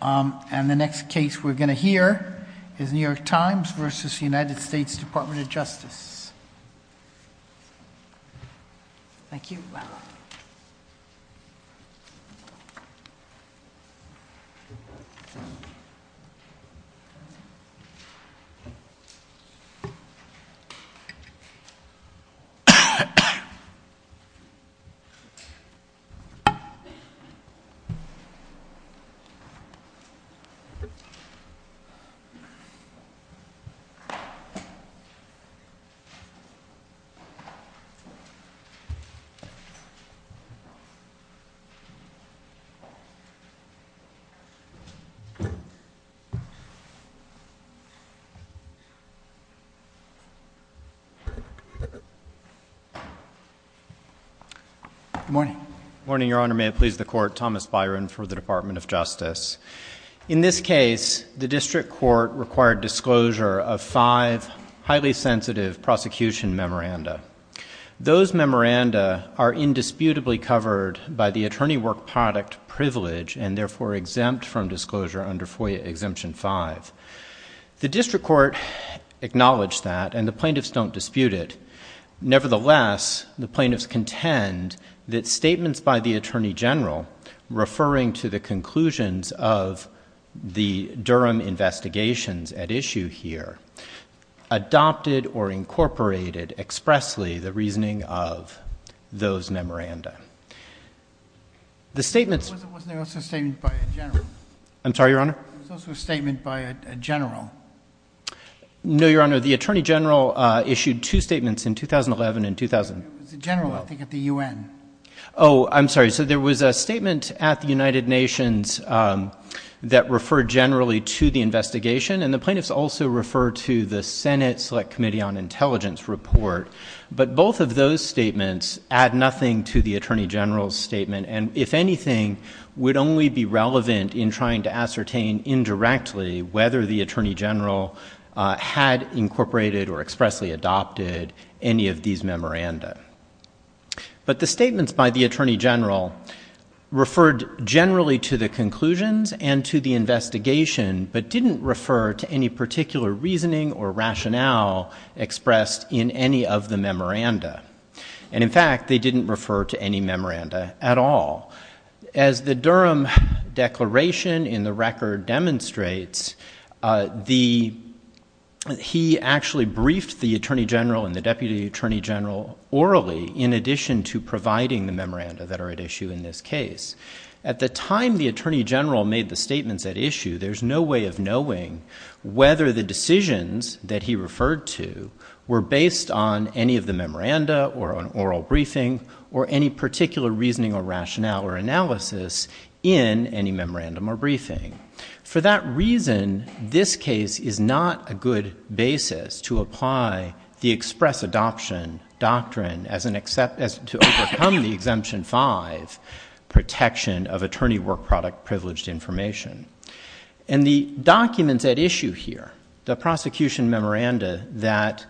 And the next case we're going to hear is New York Times v. United States Department of Justice. Thank you. Good morning, your honor, may it please the court, Thomas Byron for the Department of In this case, the district court required disclosure of five highly sensitive prosecution memoranda. Those memoranda are indisputably covered by the attorney work product privilege and therefore exempt from disclosure under FOIA Exemption 5. The district court acknowledged that and the plaintiffs don't dispute it. Nevertheless, the plaintiffs contend that the Durham investigations at issue here adopted or incorporated expressly the reasoning of those memoranda. The statements, I'm sorry, your honor, statement by a general. No, your honor, the attorney general issued two statements in 2011 and 2000 general, I think at the UN. Oh, I'm sorry. So there was a statement at the United Nations that referred generally to the investigation. And the plaintiffs also refer to the Senate Select Committee on Intelligence report. But both of those statements add nothing to the attorney general's statement. And if anything, would only be relevant in trying to ascertain indirectly whether the attorney general had incorporated or expressly adopted any of these memoranda. But the statements by attorney general referred generally to the conclusions and to the investigation, but didn't refer to any particular reasoning or rationale expressed in any of the memoranda. And in fact, they didn't refer to any memoranda at all. As the Durham declaration in the record demonstrates, he actually briefed the attorney general and the deputy attorney general orally in addition to providing the memoranda that are at issue in this case. At the time the attorney general made the statements at issue, there's no way of knowing whether the decisions that he referred to were based on any of the memoranda or an oral briefing or any particular reasoning or rationale or analysis in any memorandum or briefing. For that reason, this case is not a good basis to apply the express adoption doctrine to overcome the Exemption 5 protection of attorney work product privileged information. And the documents at issue here, the prosecution memoranda that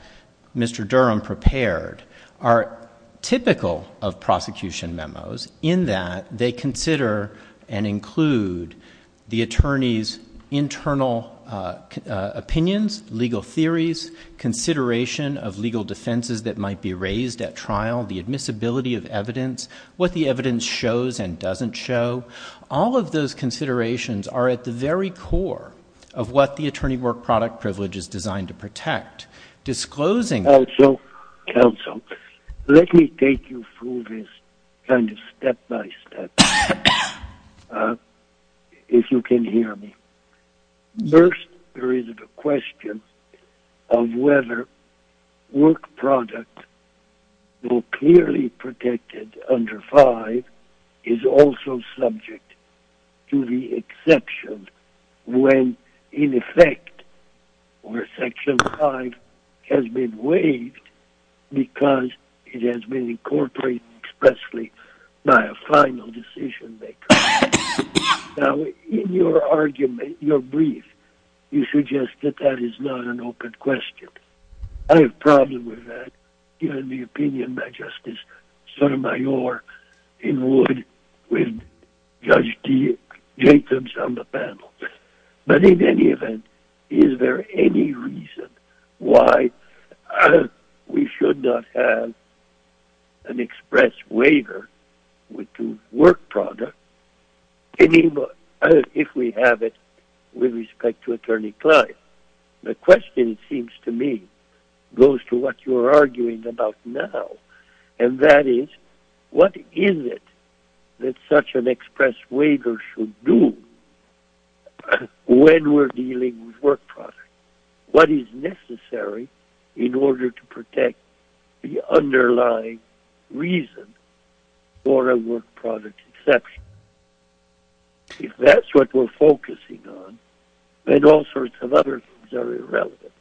Mr. Durham prepared are typical of prosecution memos in that they consider and include the consideration of legal defenses that might be raised at trial, the admissibility of evidence, what the evidence shows and doesn't show. All of those considerations are at the very core of what the attorney work product privilege is designed to protect. Disclosing... Counsel, let me take you through this kind of step by step, if you can hear me. First, there is the question of whether work product, though clearly protected under 5, is also subject to the exception when, in effect, Section 5 has been waived because it has been incorporated expressly by a final decision maker. Now, in your argument, your brief, you suggest that that is not an open question. I have a problem with that, given the opinion by Justice Sotomayor in wood with Judge Jacobs on the panel. But in any event, is there any reason why we should not have an express waiver with work product if we have it with respect to attorney client? The question, it seems to me, goes to what you're arguing about now. And that is, what is it that such an express waiver should do when we're dealing with work product? What is necessary in order to protect the underlying reason for a work product exception? If that's what we're focusing on, then all sorts of other things are irrelevant.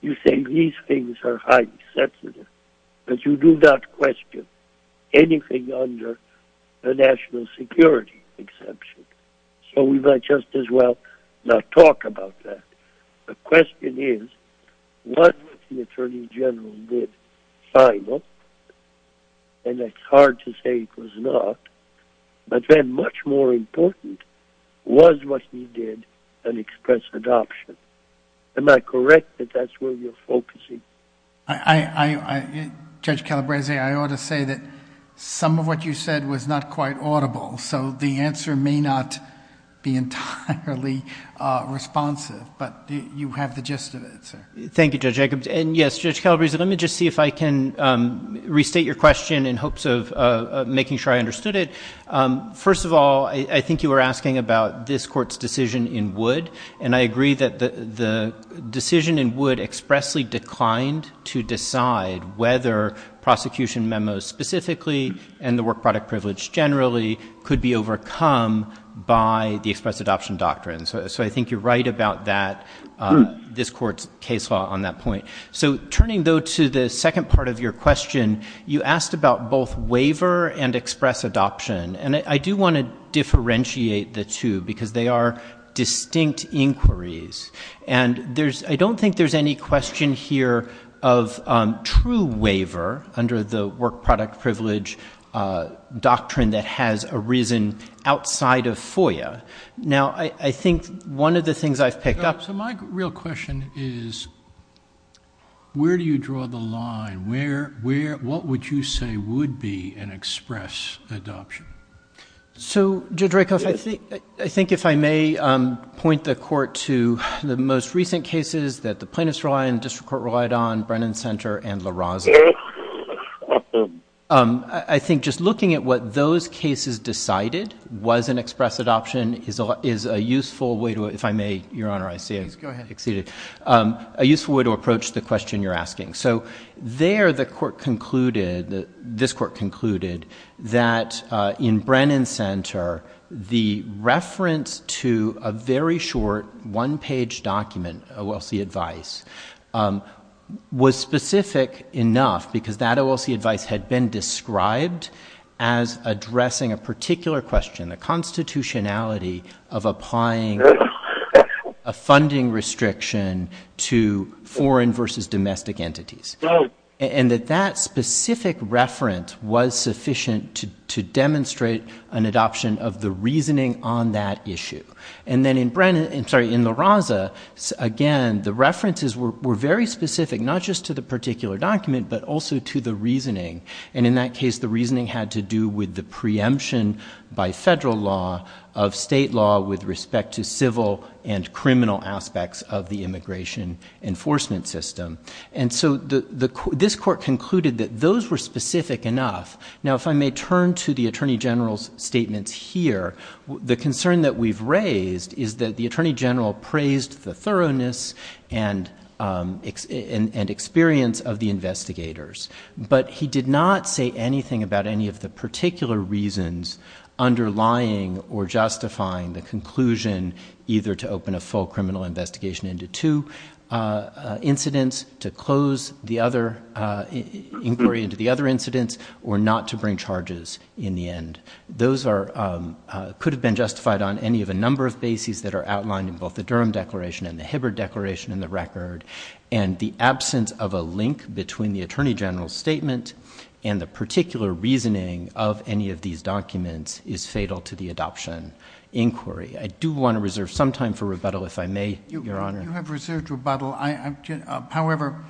You think these things are highly sensitive, but you do not question anything under the national security exception. So we might just as well not talk about that. The question is, what the Attorney General did final, and it's hard to say it was not, but then much more important was what he did an express adoption. Am I correct that that's where you're focusing? Judge Calabrese, I ought to say that some of what you said was not quite audible. So the answer may not be entirely responsive, but you have the gist of it, sir. Thank you, Judge Jacobs. And yes, Judge Calabrese, let me just see if I can restate your question in hopes of making sure I understood it. First of all, I think you were asking about this court's decision in Wood. And I agree that the decision in Wood expressly declined to decide whether prosecution memos specifically and the work product privilege generally could be overcome by the express adoption doctrine. So I think you're right about this court's case law on that point. So turning though to the second part of your question, you asked about both waiver and express adoption. And I do want to differentiate the two because they are distinct inquiries. And I don't think there's any question here of true waiver under the work product privilege doctrine that has arisen outside of one of the things I've picked up. So my real question is, where do you draw the line? What would you say would be an express adoption? So, Judge Rakoff, I think if I may point the court to the most recent cases that the plaintiffs relied on, district court relied on, Brennan Center, and LaRosa. I think just looking at what cases decided was an express adoption is a useful way to, if I may, Your Honor, I see it. Please go ahead. Exceeded. A useful way to approach the question you're asking. So there the court concluded, this court concluded, that in Brennan Center, the reference to a very short one-page document, OLC advice, was specific enough because that OLC advice had been described as addressing a particular question, the constitutionality of applying a funding restriction to foreign versus domestic entities. And that that specific reference was sufficient to demonstrate an adoption of the reasoning on that issue. And then in Brennan, I'm sorry, in LaRosa, again, the references were very specific, not just to the particular document, but also to the reasoning. And in that case, the reasoning had to do with the preemption by federal law of state law with respect to civil and criminal aspects of the immigration enforcement system. And so this court concluded that those were specific enough. Now, if I may turn to the attorney general's statements here, the concern that we've raised is that the attorney general praised the thoroughness and experience of the investigators, but he did not say anything about any of the particular reasons underlying or justifying the conclusion either to open a full criminal investigation into two incidents, to close the other inquiry into the other incidents, or not to bring charges in the end. Those could have been that are outlined in both the Durham declaration and the Hibbard declaration in the record. And the absence of a link between the attorney general's statement and the particular reasoning of any of these documents is fatal to the adoption inquiry. I do want to reserve some time for rebuttal if I may, Your Honor. You have reserved rebuttal. However,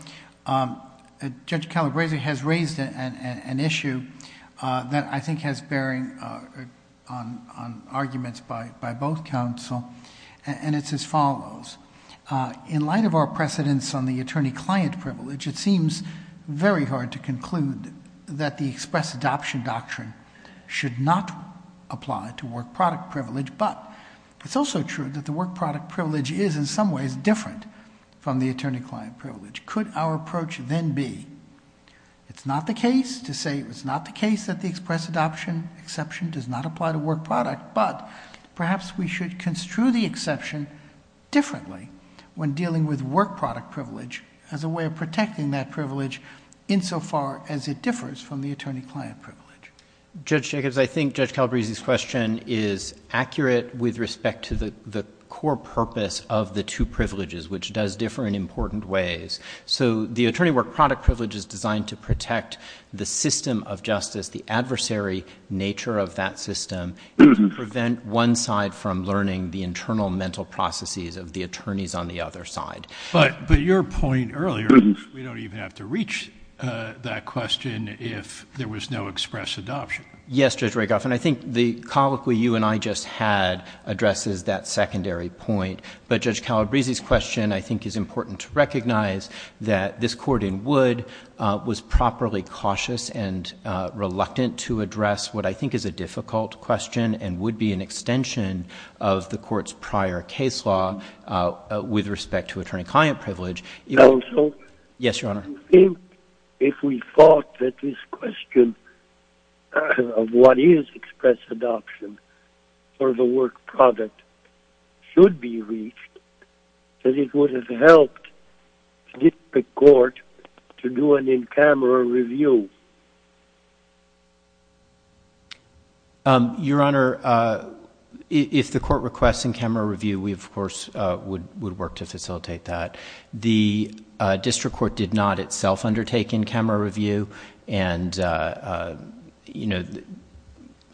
Judge Calabresi has raised an issue that I think has bearing on arguments by both counsel. And it's as follows. In light of our precedents on the attorney-client privilege, it seems very hard to conclude that the express adoption doctrine should not apply to work product privilege, but it's also true that the work product privilege is in some ways different from the attorney-client privilege. Could our approach then be, it's not the case to say it was not the case that the express adoption exception does not apply to work product, but perhaps we should construe the exception differently when dealing with work product privilege as a way of protecting that privilege insofar as it differs from the attorney-client privilege? Judge Jacobs, I think Judge Calabresi's question is accurate with respect to the core purpose of the two privileges, which does differ in important ways. So the attorney work product privilege is designed to protect the system of justice, the adversary nature of that system, and to prevent one side from learning the internal mental processes of the attorneys on the other side. But your point earlier, we don't even have to reach that question if there was no express adoption. Yes, Judge Rakoff, and I think the colloquy you and I just had addresses that secondary point. But Judge Calabresi's question I think is important to recognize that this and reluctant to address what I think is a difficult question and would be an extension of the court's prior case law with respect to attorney-client privilege. Yes, Your Honor. I think if we thought that this question of what is express adoption for the work product should be reached, that it would have helped the court to do an in-camera review. Your Honor, if the court requests an in-camera review, we, of course, would work to facilitate that. The district court did not itself undertake an in-camera review. And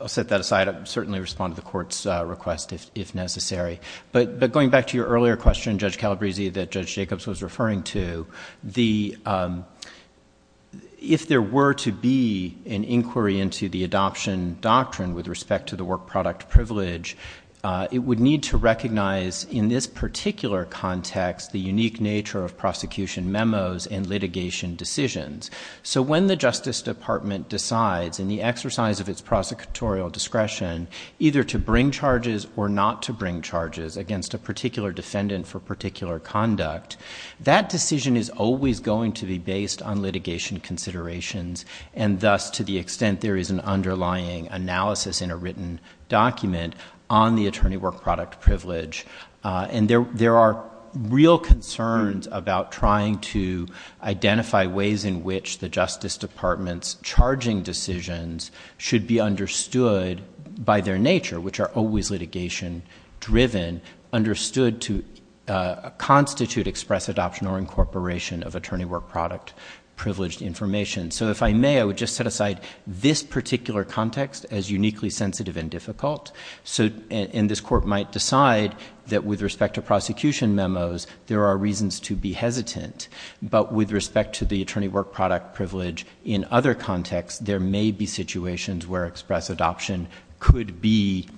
I'll set that aside. I'll certainly respond to the court's request if necessary. But going back to your earlier question, Judge Calabresi, that Judge Jacobs was referring to, if there were to be an inquiry into the adoption doctrine with respect to the work product privilege, it would need to recognize in this particular context the unique nature of prosecution memos and litigation decisions. So when the Justice Department decides in the exercise of its prosecutorial discretion either to bring charges or not to bring charges against a particular defendant for particular conduct, that decision is always going to be based on litigation considerations. And thus, to the extent there is an underlying analysis in a written document on the attorney work product privilege. And there are real concerns about trying to identify ways in which the Justice Department's charging decisions should be understood by their nature, which are always litigation-driven, understood to constitute express adoption or incorporation of attorney work product privileged information. So if I may, I would just set aside this particular context as uniquely sensitive and difficult. And this court might decide that with respect to prosecution in other contexts, there may be situations where express adoption could be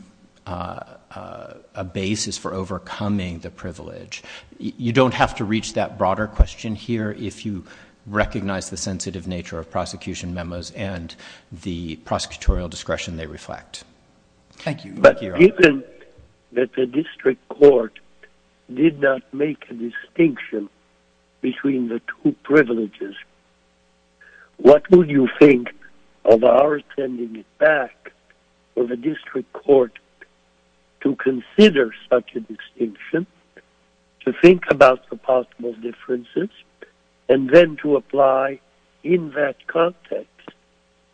a basis for overcoming the privilege. You don't have to reach that broader question here if you recognize the sensitive nature of prosecution memos and the prosecutorial discretion they reflect. Thank you. But given that the district court did not make a distinction between the two privileges, what would you think of our sending it back to the district court to consider such a distinction, to think about the possible differences, and then to apply in that context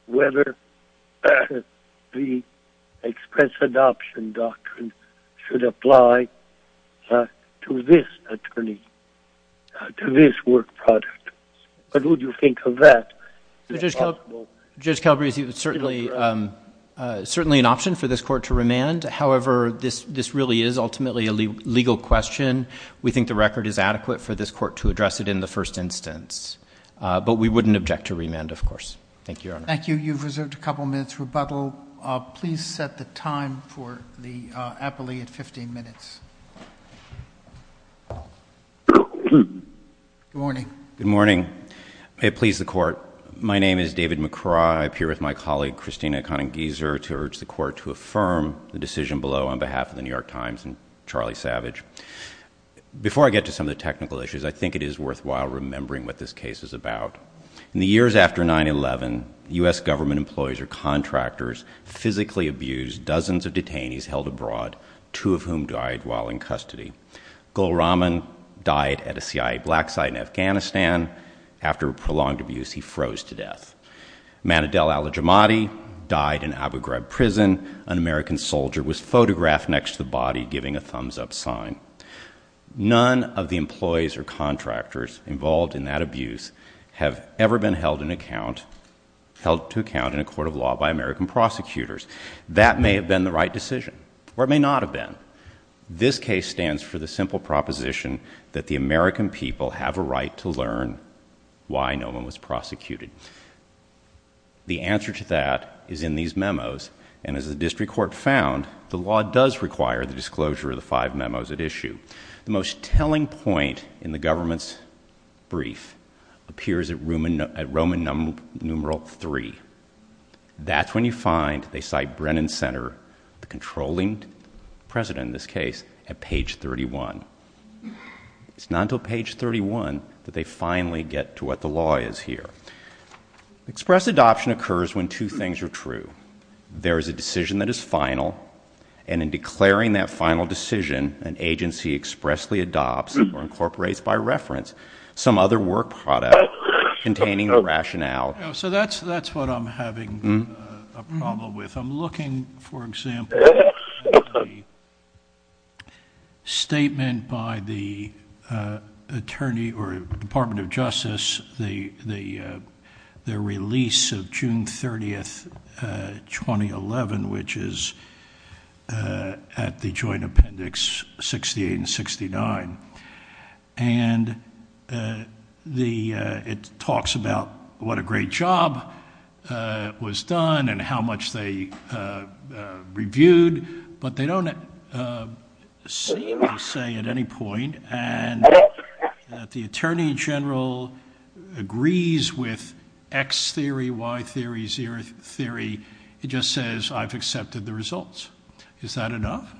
whether the express adoption doctrine should apply to this attorney, to this work product? What would you think of that? Judge Calabresi, it's certainly an option for this court to remand. However, this really is ultimately a legal question. We think the record is adequate for this court to address it in the first instance. But we wouldn't object to remand, of course. Thank you, Your Honor. Thank you. You've reserved a couple minutes rebuttal. Please set the time for the appellee at 15 minutes. Good morning. Good morning. May it please the court, my name is David McCraw. I appear with my colleague, Christina Conegizer, to urge the court to affirm the decision below on behalf of the New York Times and Charlie Savage. Before I get to some of the technical issues, I think it is worthwhile remembering what this case is about. In the years after 9-11, U.S. government employees or contractors physically abused dozens of detainees held abroad, two of whom died while in custody. Gul Rahman died at a CIA black site in Afghanistan. After prolonged abuse, he froze to death. Manadel Al-Jamadi died in Abu Ghraib prison. An American soldier was photographed next to the body giving a thumbs-up sign. None of the employees or contractors involved in that abuse have ever been held to account in a court of law by American prosecutors. That may have been the right decision, or it may not have been. This case stands for the simple proposition that the American people have a right to learn why no one was prosecuted. The answer to that is in these memos, and as the district court found, the law does require the disclosure of the five memos at issue. The most telling point in the government's brief appears at Roman numeral three. That's when you find they cite Brennan Center, the controlling president in this case, at page 31. It's not until page 31 that they finally get to what the law is here. Express adoption occurs when two things are true. There is a decision that is final, and in declaring that final decision, an agency expressly adopts or incorporates by reference some other product containing the rationale. That's what I'm having a problem with. I'm looking, for example, at the statement by the Department of Justice, the release of June 30, 2011, which is at the joint appendix 68 and 69. It talks about what a great job was done and how much they reviewed, but they don't seem to say at any point that the attorney general agrees with X theory, Y theory, Z theory. It just says I've accepted the results. Is that enough?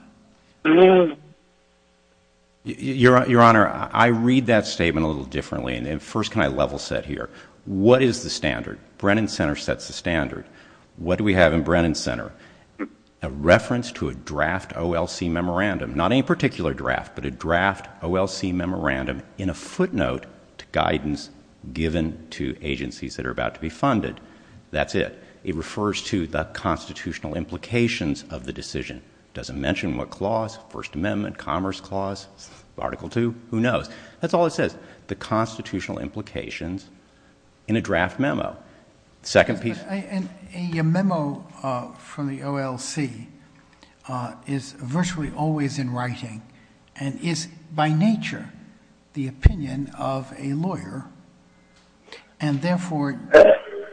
Your Honor, I read that statement a little differently. First, can I level set here? What is the standard? Brennan Center sets the standard. What do we have in Brennan Center? A reference to a draft OLC memorandum, not any particular draft, but a draft OLC memorandum in a footnote to guidance given to agencies that are about to be funded. That's it. It refers to the constitutional implications of the decision. It doesn't mention what clause, First Amendment, Commerce Clause, Article II, who knows? That's all it says, the constitutional implications in a draft memo. The second piece... Your memo from the OLC is virtually always in nature the opinion of a lawyer. Therefore,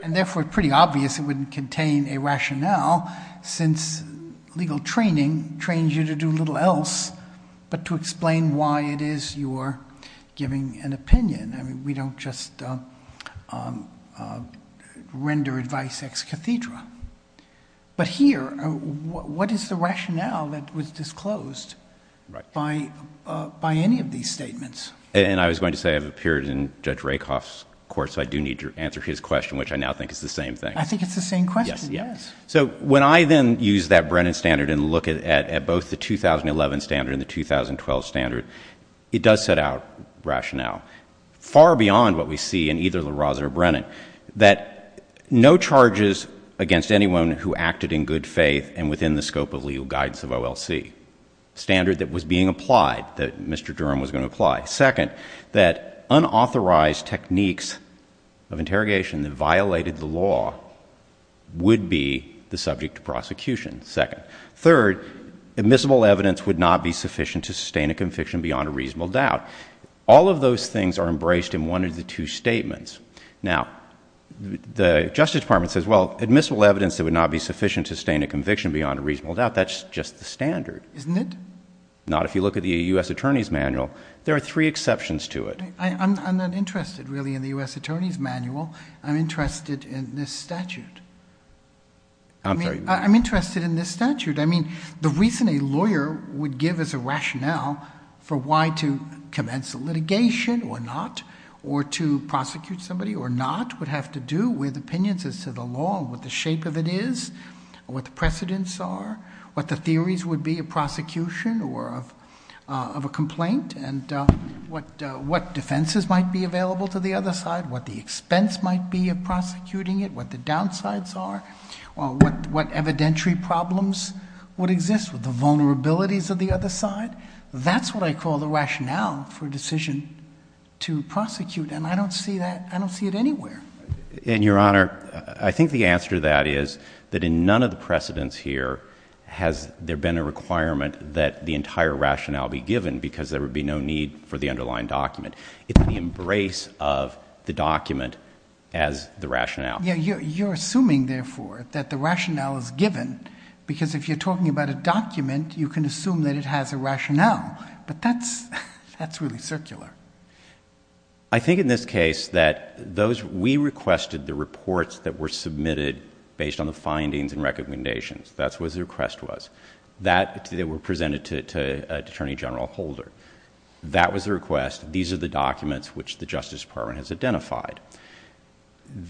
it's pretty obvious it wouldn't contain a rationale since legal training trains you to do little else but to explain why it is you're giving an opinion. We don't just render advice ex cathedra. Here, what is the rationale that was And I was going to say I've appeared in Judge Rakoff's court, so I do need to answer his question, which I now think is the same thing. I think it's the same question. Yes. So when I then use that Brennan standard and look at both the 2011 standard and the 2012 standard, it does set out rationale far beyond what we see in either LaRosa or Brennan, that no charges against anyone who acted in good faith and within the scope of legal guidance of OLC. Standard that was being applied, that Mr. Durham was going to apply. Second, that unauthorized techniques of interrogation that violated the law would be the subject to prosecution. Second. Third, admissible evidence would not be sufficient to sustain a conviction beyond a reasonable doubt. All of those things are embraced in one of the two statements. Now, the Justice Department says, well, admissible evidence that would not be Not if you look at the U.S. Attorney's Manual. There are three exceptions to it. I'm not interested really in the U.S. Attorney's Manual. I'm interested in this statute. I'm interested in this statute. I mean, the reason a lawyer would give us a rationale for why to commence a litigation or not, or to prosecute somebody or not, would have to do with opinions as to the law, what the shape of it is, what the precedents are, what the theories would be of prosecution or of a complaint, and what defenses might be available to the other side, what the expense might be of prosecuting it, what the downsides are, what evidentiary problems would exist with the vulnerabilities of the other side. That's what I call the rationale for a decision to prosecute, and I don't see that. I don't see it anywhere. And, Your Honor, I think the answer to that is that in none of the precedents here has there been a requirement that the entire rationale be given, because there would be no need for the underlying document. It's the embrace of the document as the rationale. Yeah, you're assuming, therefore, that the rationale is given, because if you're talking about a document, you can assume that it has a rationale, but that's really circular. I think in this case that those, we requested the reports that were submitted based on the that they were presented to Attorney General Holder. That was the request. These are the documents which the Justice Department has identified.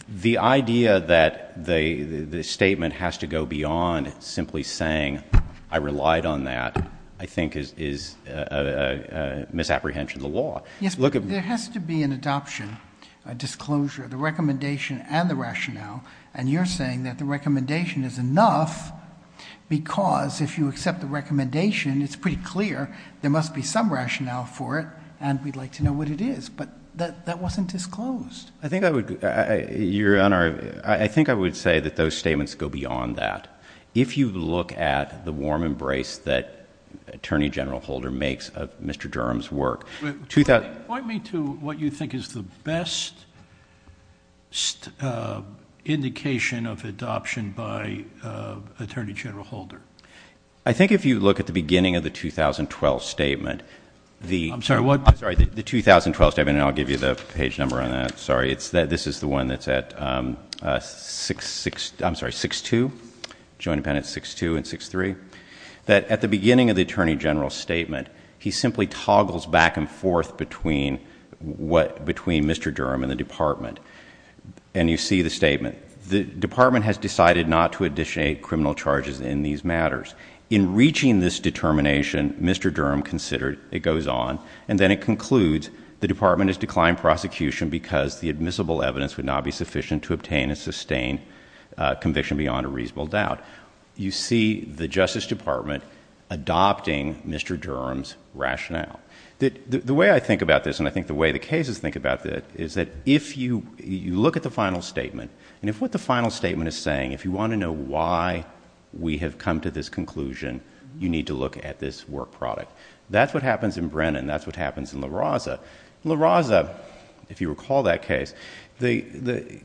The idea that the statement has to go beyond simply saying, I relied on that, I think is a misapprehension of the law. Yes, but there has to be an adoption, a disclosure, the recommendation and the rationale, and you're saying that the recommendation is enough, because if you accept the recommendation, it's pretty clear there must be some rationale for it, and we'd like to know what it is, but that wasn't disclosed. I think I would, Your Honor, I think I would say that those statements go beyond that. If you look at the warm embrace that Attorney General Holder makes of Mr. Durham's work. Point me to what you think is the best indication of adoption by Attorney General Holder. I think if you look at the beginning of the 2012 statement, I'm sorry, the 2012 statement, and I'll give you the page number on that, sorry, this is the one that's at 6-2, Joint Appendix 6-2 and 6-3, that at the beginning of the Attorney General's statement, he simply toggles back and forth between what, between Mr. Durham and the Department, and you see the statement. The Department has decided not to initiate criminal charges in these matters. In reaching this determination, Mr. Durham considered it goes on, and then it concludes the Department has declined prosecution because the admissible evidence would not be sufficient to obtain and sustain conviction beyond a reasonable doubt. You see the Justice Department adopting Mr. Durham's rationale. The way I think about this, and I think the way the cases think about it, is that if you look at the final statement, and if what the final statement is saying, if you want to know why we have come to this conclusion, you need to look at this work product. That's what happens in Brennan. That's what happens in LaRosa. LaRosa, if you recall that case, the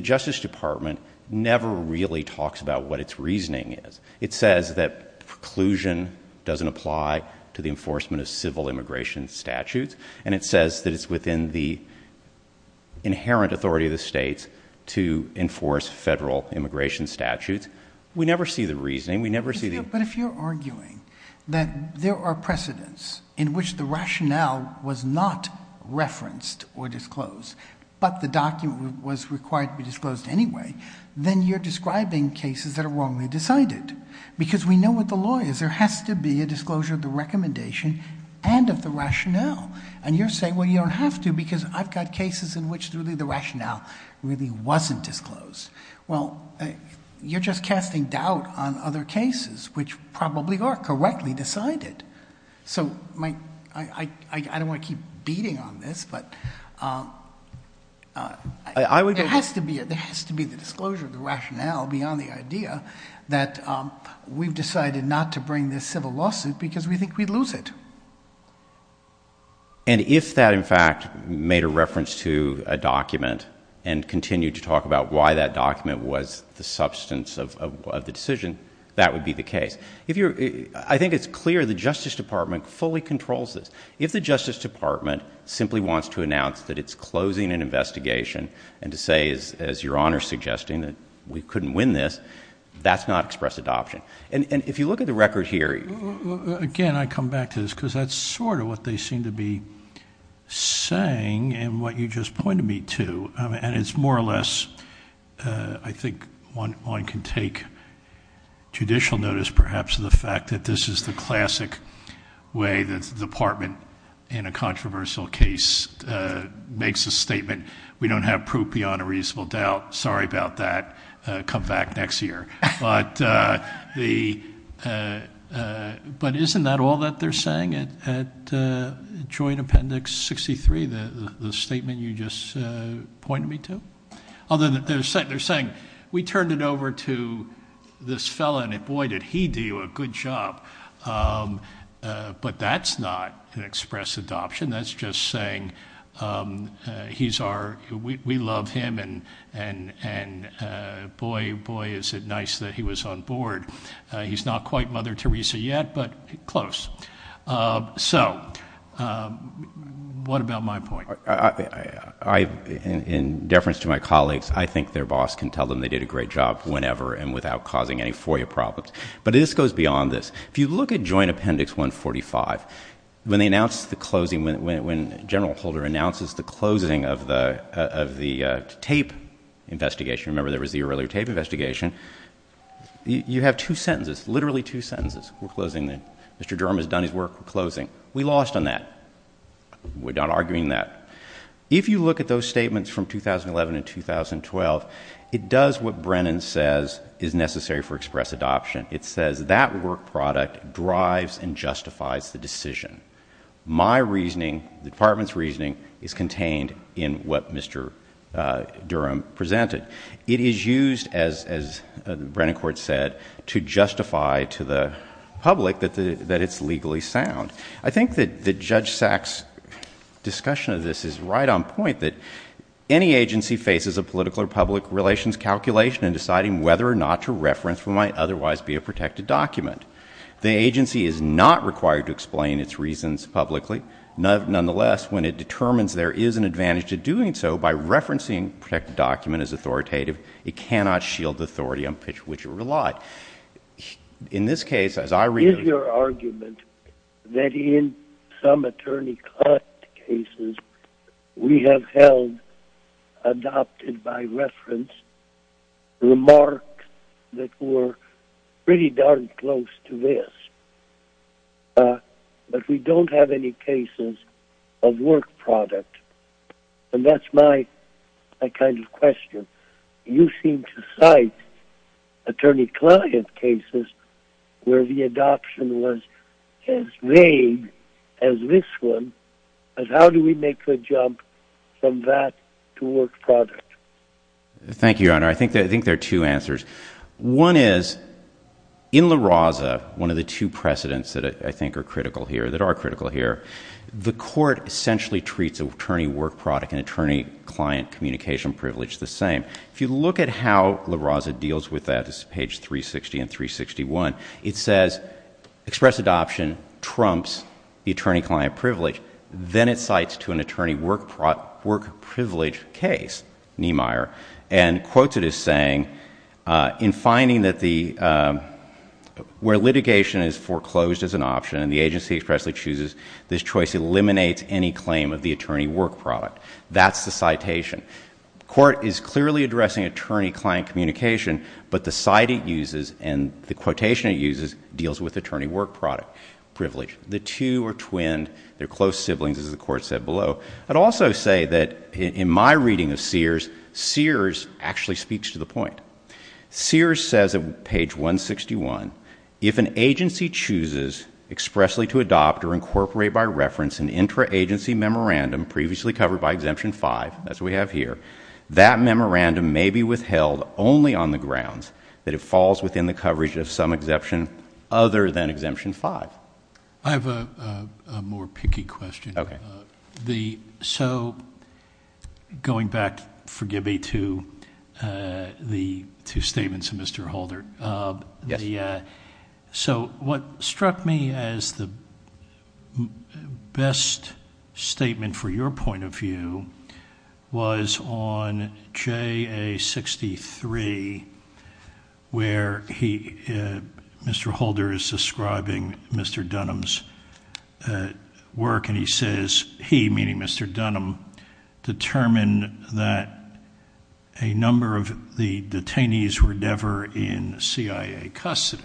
Justice Department never really talks about what it's reasoning is. It says that preclusion doesn't apply to the enforcement of civil immigration statutes, and it says that it's within the inherent authority of the states to enforce federal immigration statutes. We never see the reasoning. We never see the... But if you're arguing that there are precedents in which the rationale was not referenced or disclosed, but the document was required to be disclosed anyway, then you're describing cases that are wrongly decided. Because we know what the law is. There has to be a disclosure of the recommendation and of the rationale. And you're saying, well, you don't have to because I've got cases in which really the rationale really wasn't disclosed. Well, you're just casting doubt on other cases, which probably are correctly decided. So I don't want to keep beating on this, but there has to be the disclosure of the rationale beyond the idea that we've decided not to bring this civil lawsuit because we think we'd lose it. And if that, in fact, made a reference to a document and continued to talk about why that document was the substance of the decision, that would be the case. I think it's clear the Justice Department fully controls this. If the Justice Department simply wants to announce that it's closing an investigation and to say, as Your Honor's suggesting, that we couldn't win this, that's not express adoption. And if you look at the record here... Again, I come back to this because that's sort of what they seem to be saying and what you just pointed me to. And it's more or less, I think one can take judicial notice perhaps of the fact that this is the classic way that the department in a controversial case makes a statement, we don't have proof beyond a reasonable doubt. Sorry about that. Come back next year. But isn't that all that they're saying at Joint Appendix 63, the statement you just pointed me to? Other than they're saying, we turned it over to this fellow and boy, did he do a good job. But that's not an express adoption. That's just saying we love him and boy, boy, is it nice that he was on board. He's not quite Mother Teresa yet, but close. So what about my point? In deference to my colleagues, I think their boss can tell them they did a great job whenever and without causing any FOIA problems. But this goes beyond this. If you look at Joint Appendix 145, when they announced the closing, when General Holder announces the closing of the tape investigation, remember there was the earlier tape investigation, you have two sentences, literally two sentences. We're closing. Mr. Durham has done his work. We're closing. We lost on that. We're not arguing that. If you look at those statements from 2011 and 2012, it does what Brennan says is necessary for express adoption. It says that work product drives and justifies the decision. My reasoning, the department's reasoning, is contained in what Durham presented. It is used, as Brennan Court said, to justify to the public that it's legally sound. I think that Judge Sack's discussion of this is right on point, that any agency faces a political or public relations calculation in deciding whether or not to reference what might otherwise be a protected document. The agency is not required to explain its reasons publicly. Nonetheless, when it determines there is an advantage to doing so by referencing a protected document as authoritative, it cannot shield the authority on which it relied. In this case, as I that in some attorney client cases, we have held, adopted by reference, remarks that were pretty darn close to this. But we don't have any cases of work product. And that's my kind of question. You seem to cite attorney client cases where the adoption was as vague as this one. But how do we make the jump from that to work product? Thank you, Your Honor. I think there are two answers. One is, in La Raza, one of the two precedents that I think are critical here, that are critical here, the court essentially treats attorney work product and attorney client communication privilege the same. If you look at how La Raza deals with that, this is page 360 and 361, it says express adoption trumps the attorney client privilege. Then it cites to an attorney work privilege case, Niemeyer, and quotes it as saying, in finding that the, where litigation is foreclosed as an option, and the agency expressly chooses this choice eliminates any claim of the attorney work product. That's the citation. The court is clearly addressing attorney client communication, but the cite it uses and the quotation it uses deals with attorney work product privilege. The two are twinned. They're close siblings, as the court said below. I'd also say that in my reading of Sears, Sears actually speaks to the point. Sears says on page 161, if an agency chooses expressly to adopt or incorporate by reference an intra-agency memorandum previously covered by Exemption 5, as we have here, that memorandum may be withheld only on the grounds that it falls within the coverage of some exemption other than Exemption 5. I have a more picky question. The, so going back, forgive me, to the two statements of Mr. Holder. Yes. So what struck me as the best statement for your point of view was on JA 63, where he, Mr. Holder is describing Mr. Dunham's work, and he says he, meaning Mr. Dunham, determined that a number of the detainees were never in CIA custody.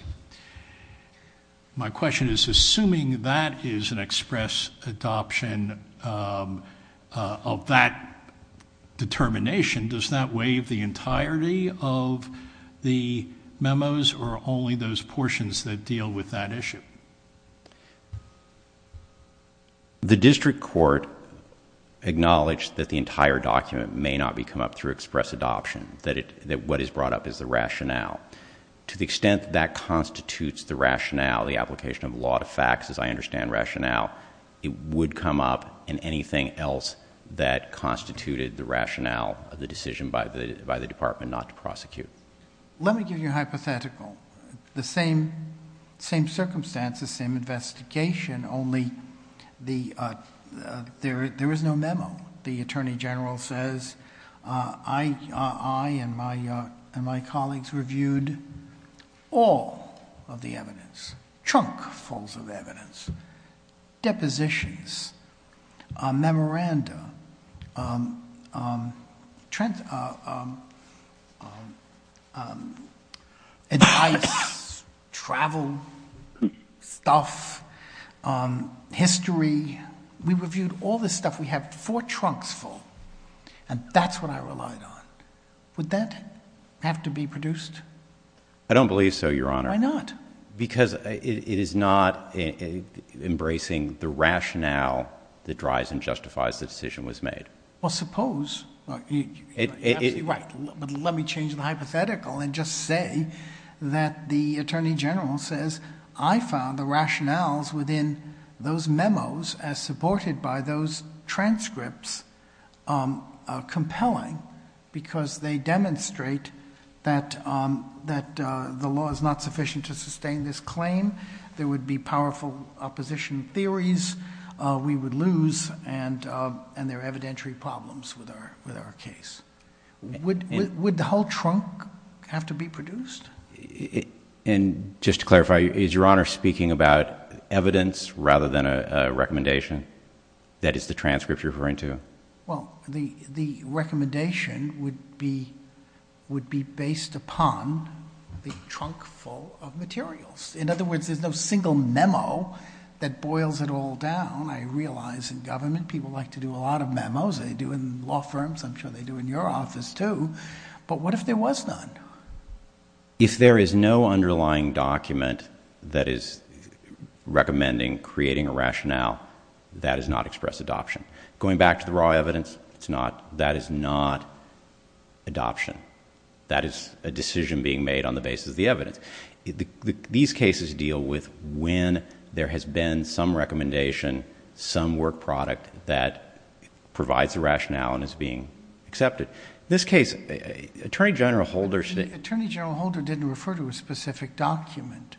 My question is, assuming that is an express adoption of that determination, does that waive the entirety of the memos or only those portions that deal with that issue? The district court acknowledged that the entire document may not be come up through express adoption, that it, that what is brought up is the rationale. To the extent that constitutes the rationale, the application of law to facts, as I understand rationale, it would come up in anything else that constituted the rationale of the decision by the, by the district court. Under the same circumstances, same investigation, only the, there is no memo. The Attorney General says, I and my colleagues reviewed all of the evidence, trunkfuls of evidence, depositions, memoranda, advice, travel stuff, history. We reviewed all this stuff. We have four trunks full, and that's what I relied on. Would that have to be produced? I don't believe so, Your Honor. Why not? Because it is not embracing the rationale that drives and justifies the decision was made. Well, suppose, right. But let me change the hypothetical and just say that the Attorney General says, I found the rationales within those memos as supported by those transcripts, um, uh, compelling because they demonstrate that, um, that, uh, the law is not sufficient to sustain this claim. There would be powerful opposition theories, uh, we would lose and, uh, and there are evidentiary problems with our, with our case. Would, would the whole trunk have to be produced? And just to clarify, is Your Honor speaking about evidence rather than a recommendation that is the transcript referring to? Well, the, the recommendation would be, would be based upon the trunk full of materials. In other words, there's no single memo that boils it all down. I realize in government, people like to do a lot of memos. They do in law firms. I'm sure they do in your office too, but what if there was none? If there is no underlying document that is going back to the raw evidence, it's not, that is not adoption. That is a decision being made on the basis of the evidence. These cases deal with when there has been some recommendation, some work product that provides the rationale and is being accepted. This case, Attorney General Holder... Attorney General Holder didn't refer to a specific document.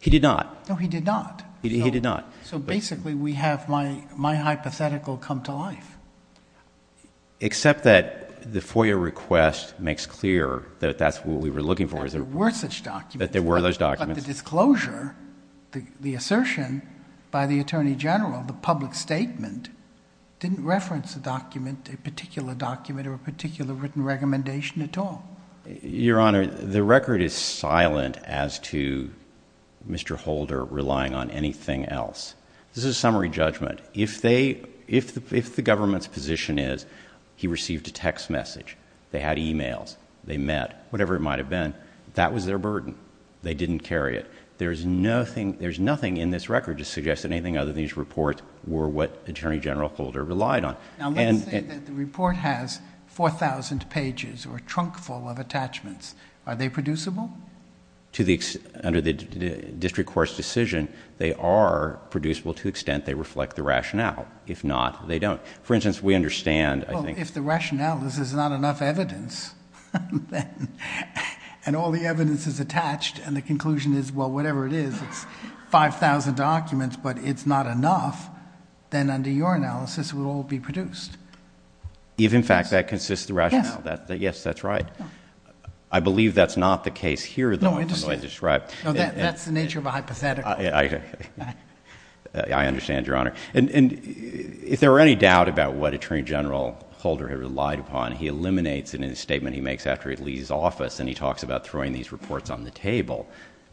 He did not. No, he did not. He did not. So basically we have my, hypothetical come to life. Except that the FOIA request makes clear that that's what we were looking for. That there were such documents. That there were those documents. But the disclosure, the assertion by the Attorney General, the public statement, didn't reference a document, a particular document or a particular written recommendation at all. Your Honor, the record is if the government's position is he received a text message, they had emails, they met, whatever it might have been, that was their burden. They didn't carry it. There's nothing in this record to suggest that anything other than these reports were what Attorney General Holder relied on. Now let's say that the report has 4,000 pages or a trunk full of attachments. Are they producible? Under the district court's decision, they are producible to the extent they are. If not, they don't. For instance, we understand. Well, if the rationale is there's not enough evidence and all the evidence is attached and the conclusion is, well, whatever it is, it's 5,000 documents, but it's not enough, then under your analysis, it will all be produced. If in fact that consists of rationale. Yes, that's right. I believe that's not the case though. That's the nature of a hypothetical. I understand, Your Honor. If there were any doubt about what Attorney General Holder had relied upon, he eliminates it in a statement he makes after he leaves office and he talks about throwing these reports on the table.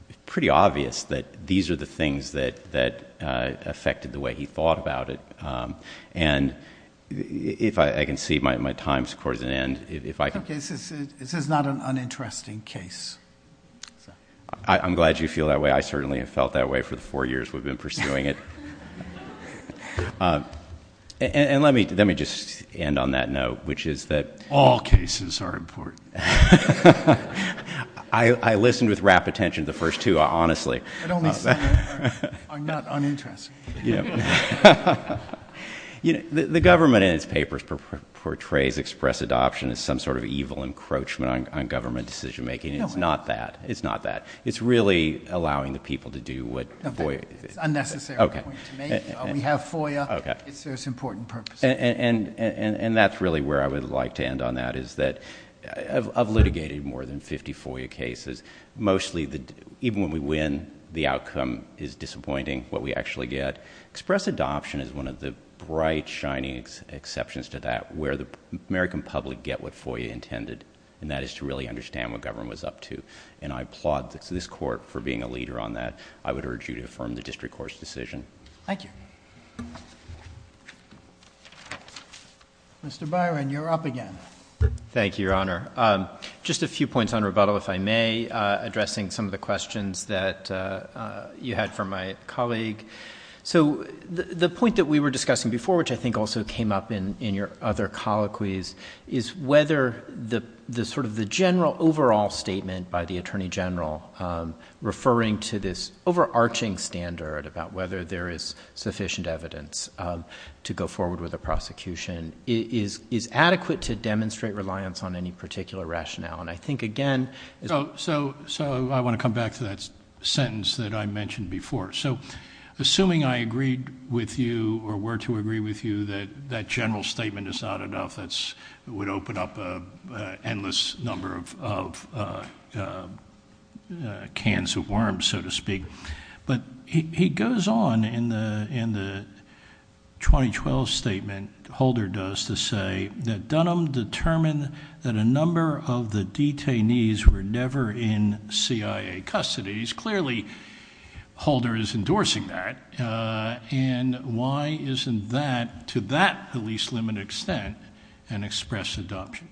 It's pretty obvious that these are the things that affected the way he thought about it. I can see my time's up. Okay. This is not an uninteresting case. I'm glad you feel that way. I certainly have felt that way for the four years we've been pursuing it. Let me just end on that note, which is that all cases are important. I listened with rapid attention to the first two, honestly. But only some are not uninteresting. The government in its papers portrays express adoption as some sort of evil encroachment on government decision making. It's not that. It's really allowing the people to do what... It's unnecessary. We have FOIA. It serves important purposes. That's really where I would like to end on that is that I've litigated more than 50 FOIA cases. Mostly, even when we win, the outcome is disappointing, what we actually get. Express adoption is one of the bright, shining exceptions to that, where the American public get what FOIA intended, and that is to really understand what government was up to. I applaud this court for being a leader on that. I would urge you to affirm the district court's decision. Thank you. Mr. Byron, you're up again. Thank you, Your Honor. Just a few points on rebuttal, if I may, addressing some of the questions that you had for my colleague. The point that we were discussing before, which I think also came up in your other colloquies, is whether the general overall statement by the Attorney General, referring to this overarching standard about there is sufficient evidence to go forward with a prosecution, is adequate to demonstrate reliance on any particular rationale. I think, again... I want to come back to that sentence that I mentioned before. Assuming I agreed with you or were to agree with you that that general statement is not enough, that would open up an endless number of cans of worms, so to speak. But he goes on in the 2012 statement, Holder does, to say that Dunham determined that a number of the detainees were never in CIA custody. He's clearly... Holder is endorsing that, and why isn't that, to that least limited extent, an express adoption?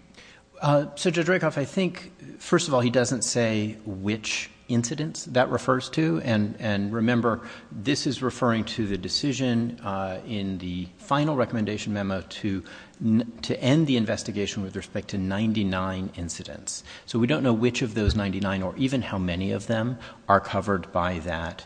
So Judge Rakoff, I think, first of all, he doesn't say which incidents that refers to, and remember, this is referring to the decision in the final recommendation memo to end the investigation with respect to 99 incidents. So we don't know which of those 99 or even how many of them are covered by that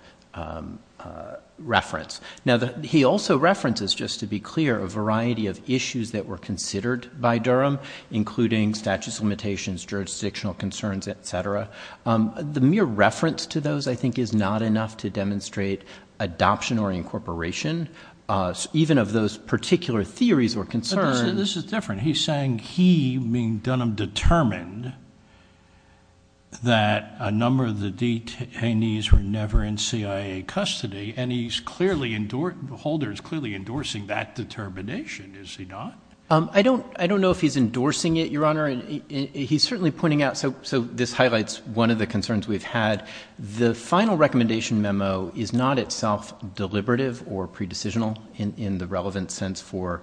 reference. Now, he also references, just to be clear, a variety of issues that were considered by Durham, including status limitations, jurisdictional concerns, etc. The mere reference to those, I think, is not enough to demonstrate adoption or incorporation, even of those particular theories or concerns. But this is different. He's saying he, meaning Dunham, determined that a number of the detainees were never in CIA custody, and Holder is clearly endorsing that determination, is he not? I don't know if he's endorsing it, Your Honor. He's certainly pointing out... So this highlights one of the concerns we've had. The final recommendation memo is not itself deliberative or pre-decisional in the relevant sense for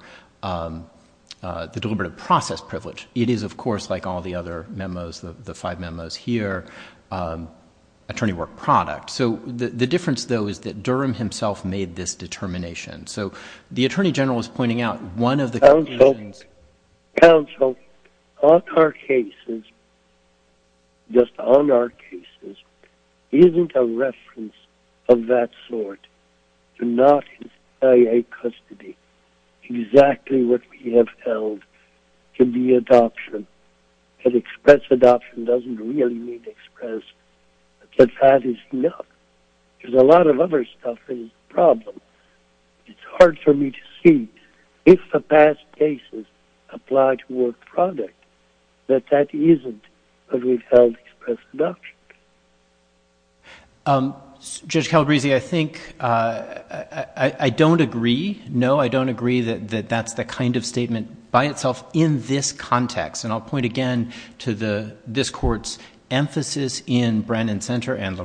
the deliberative process privilege. It is, of course, like all the other memos, the five memos here, attorney work product. So the difference, though, is that Durham himself made this determination. So the Attorney General is counsel on our cases, just on our cases, isn't a reference of that sort to not in CIA custody. Exactly what we have held to be adoption, and express adoption doesn't really mean express, but that is enough. There's a lot of other stuff that is a problem. It's hard for me to see if the past cases apply to work product, that that isn't what we've held to express adoption. Judge Calabresi, I think... I don't agree. No, I don't agree that that's the kind of statement by itself in this context, and I'll point again to this court's emphasis in Brannon Center and a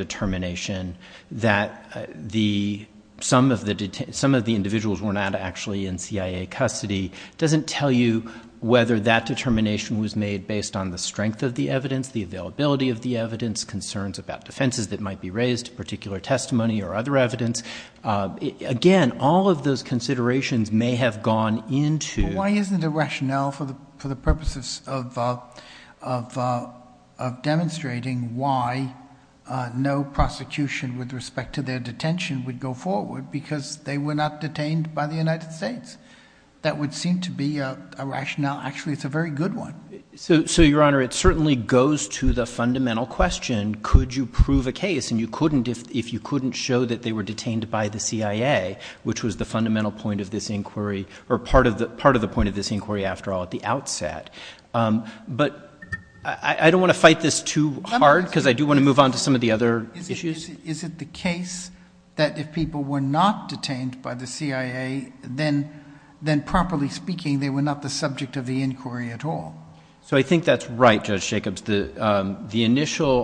determination that some of the individuals were not actually in CIA custody doesn't tell you whether that determination was made based on the strength of the evidence, the availability of the evidence, concerns about defenses that might be raised, particular testimony or other evidence. Again, all of those considerations may have gone into... No prosecution with respect to their detention would go forward because they were not detained by the United States. That would seem to be a rationale. Actually, it's a very good one. So, Your Honor, it certainly goes to the fundamental question, could you prove a case and you couldn't if you couldn't show that they were detained by the CIA, which was the fundamental point of this inquiry, or part of the point of this inquiry after all, at the outset. But I don't want to fight this too hard because I do want to move on to some other issues. Is it the case that if people were not detained by the CIA, then properly speaking, they were not the subject of the inquiry at all? So I think that's right, Judge Jacobs. The initial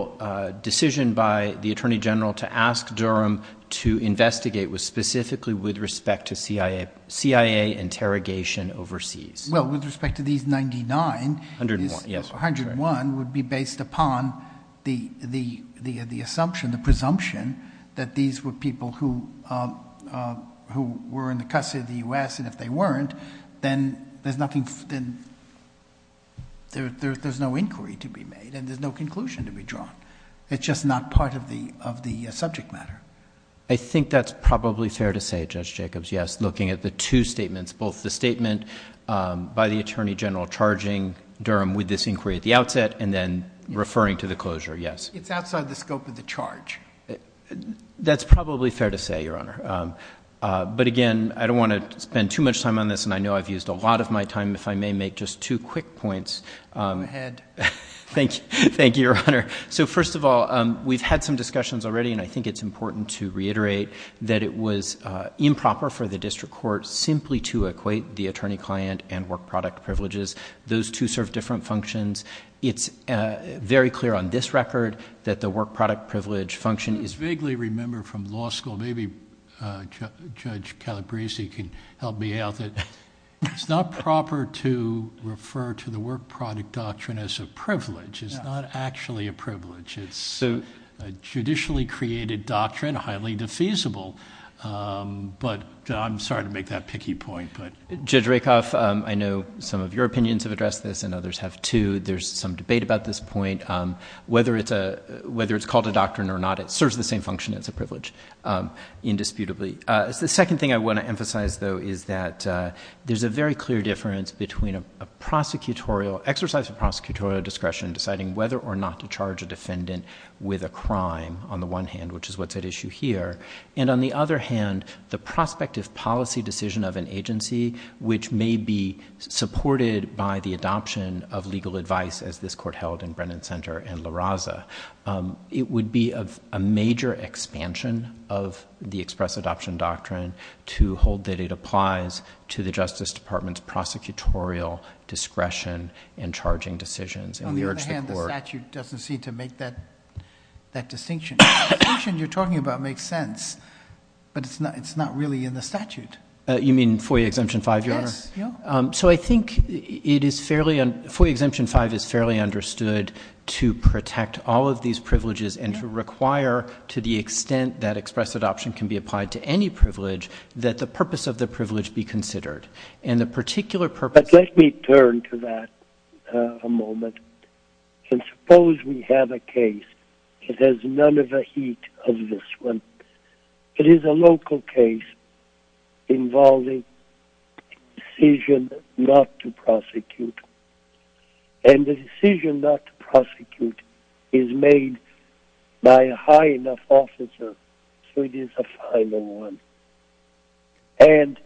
decision by the Attorney General to ask Durham to investigate was specifically with respect to CIA interrogation overseas. Well, with respect to these 99... 101, yes. ...the assumption, the presumption that these were people who were in the custody of the U.S. and if they weren't, then there's no inquiry to be made and there's no conclusion to be drawn. It's just not part of the subject matter. I think that's probably fair to say, Judge Jacobs, yes, looking at the two statements, both the statement by the Attorney General charging Durham with this inquiry at the outset and then referring to the closure, yes. It's outside the scope of the charge. That's probably fair to say, Your Honor. But again, I don't want to spend too much time on this and I know I've used a lot of my time. If I may make just two quick points. Go ahead. Thank you, Your Honor. So first of all, we've had some discussions already and I think it's important to reiterate that it was improper for the district court simply to equate the very clear on this record that the work product privilege function is... I vaguely remember from law school, maybe Judge Calabresi can help me out, that it's not proper to refer to the work product doctrine as a privilege. It's not actually a privilege. It's a judicially created doctrine, highly defeasible. But I'm sorry to make that picky point, but... Judge Rakoff, I know some of your opinions have addressed this and others have too. There's some debate about this point. Whether it's called a doctrine or not, it serves the same function as a privilege, indisputably. The second thing I want to emphasize, though, is that there's a very clear difference between exercise of prosecutorial discretion deciding whether or not to charge a defendant with a crime, on the one hand, which is what's at issue here. And on the other hand, the prospective policy decision of an agency, which may be supported by the adoption of legal advice, as this court held in Brennan Center and La Raza, it would be a major expansion of the express adoption doctrine to hold that it applies to the Justice Department's prosecutorial discretion in charging decisions. On the other hand, the statute doesn't seem to make that distinction. The distinction you're talking about makes sense, but it's not really in the statute. You mean FOIA Exemption 5, Your Honor? Yes, yeah. So I think FOIA Exemption 5 is fairly understood to protect all of these privileges and to require, to the extent that express adoption can be applied to any privilege, that the purpose of the privilege be considered. And the particular purpose— But let me turn to that a moment. And suppose we have a case that has none of the heat of this one. It is a local case involving decision not to prosecute. And the decision not to prosecute is made by a high enough officer so it is a final one. And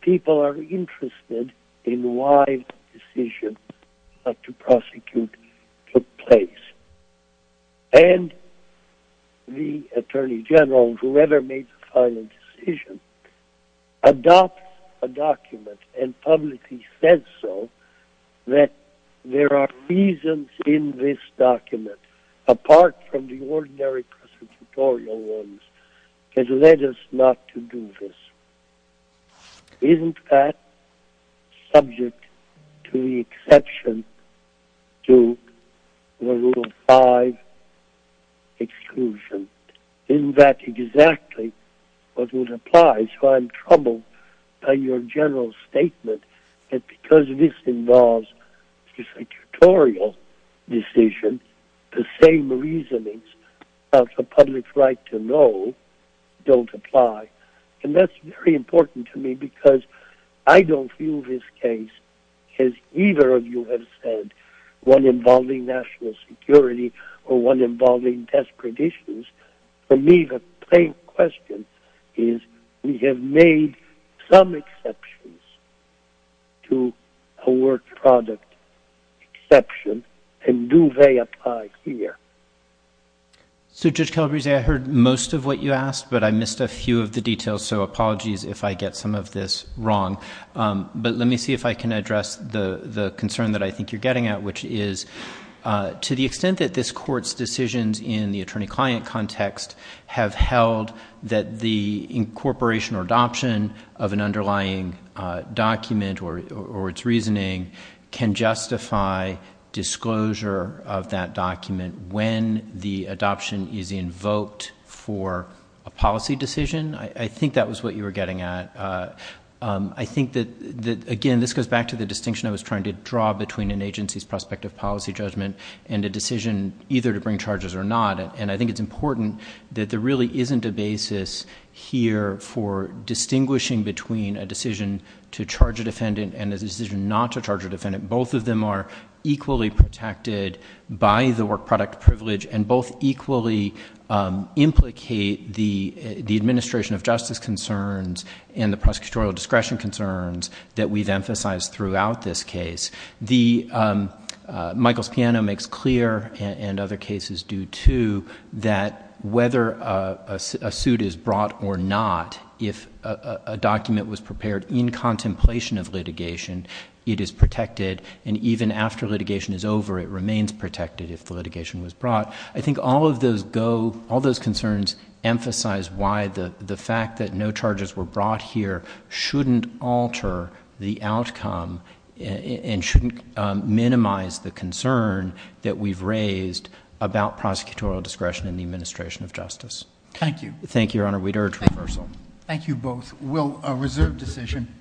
people are interested in why the decision not to prosecute took place. And the Attorney General, whoever made the final decision, adopts a document and publicly says so, that there are reasons in this document, apart from the ordinary prosecutorial ones, that led us not to do this. Isn't that subject to the exception to the Rule 5 Exclusion? Isn't that exactly what would apply? So I'm troubled by your general statement that because this involves just a tutorial decision, the same reasonings about the public's right to know don't apply. And that's very important to me because I don't feel this case, as either of you have said, one involving national security or one involving desperate issues. For me, the plain question is, we have made some exceptions to a work product exception, and do they apply here? So, Judge Calabrese, I heard most of what you asked, but I missed a few of the details, so apologies if I get some of this wrong. But let me see if I can address the concern that I think you're getting at, which is, to the extent that this Court's decisions in the attorney-client context have held that the incorporation or adoption of an underlying document or its reasoning can justify disclosure of that document when the adoption is invoked for a policy decision. I think that was what you were getting at. I think that, again, this goes back to the distinction I was trying to draw between an agency's prospective policy judgment and a decision either to bring charges or not. And I think it's important that there really isn't a basis here for distinguishing between a decision to charge a defendant and a decision not to charge a defendant. Both of them are equally protected by the work product privilege and both equally implicate the administration of justice concerns and the prosecutorial discretion concerns that we've emphasized throughout this case. Michael's piano makes clear, and other cases do too, that whether a suit is brought or not, if a document was prepared in contemplation of litigation, it is protected. And even after litigation is over, it remains protected if the litigation was brought. I think all of those concerns emphasize why the fact that no charges were brought here shouldn't alter the outcome and shouldn't minimize the concern that we've raised about prosecutorial discretion in the administration of justice. Thank you. Thank you, Your Honor. We'd urge reversal. Thank you both. We'll reserve decision.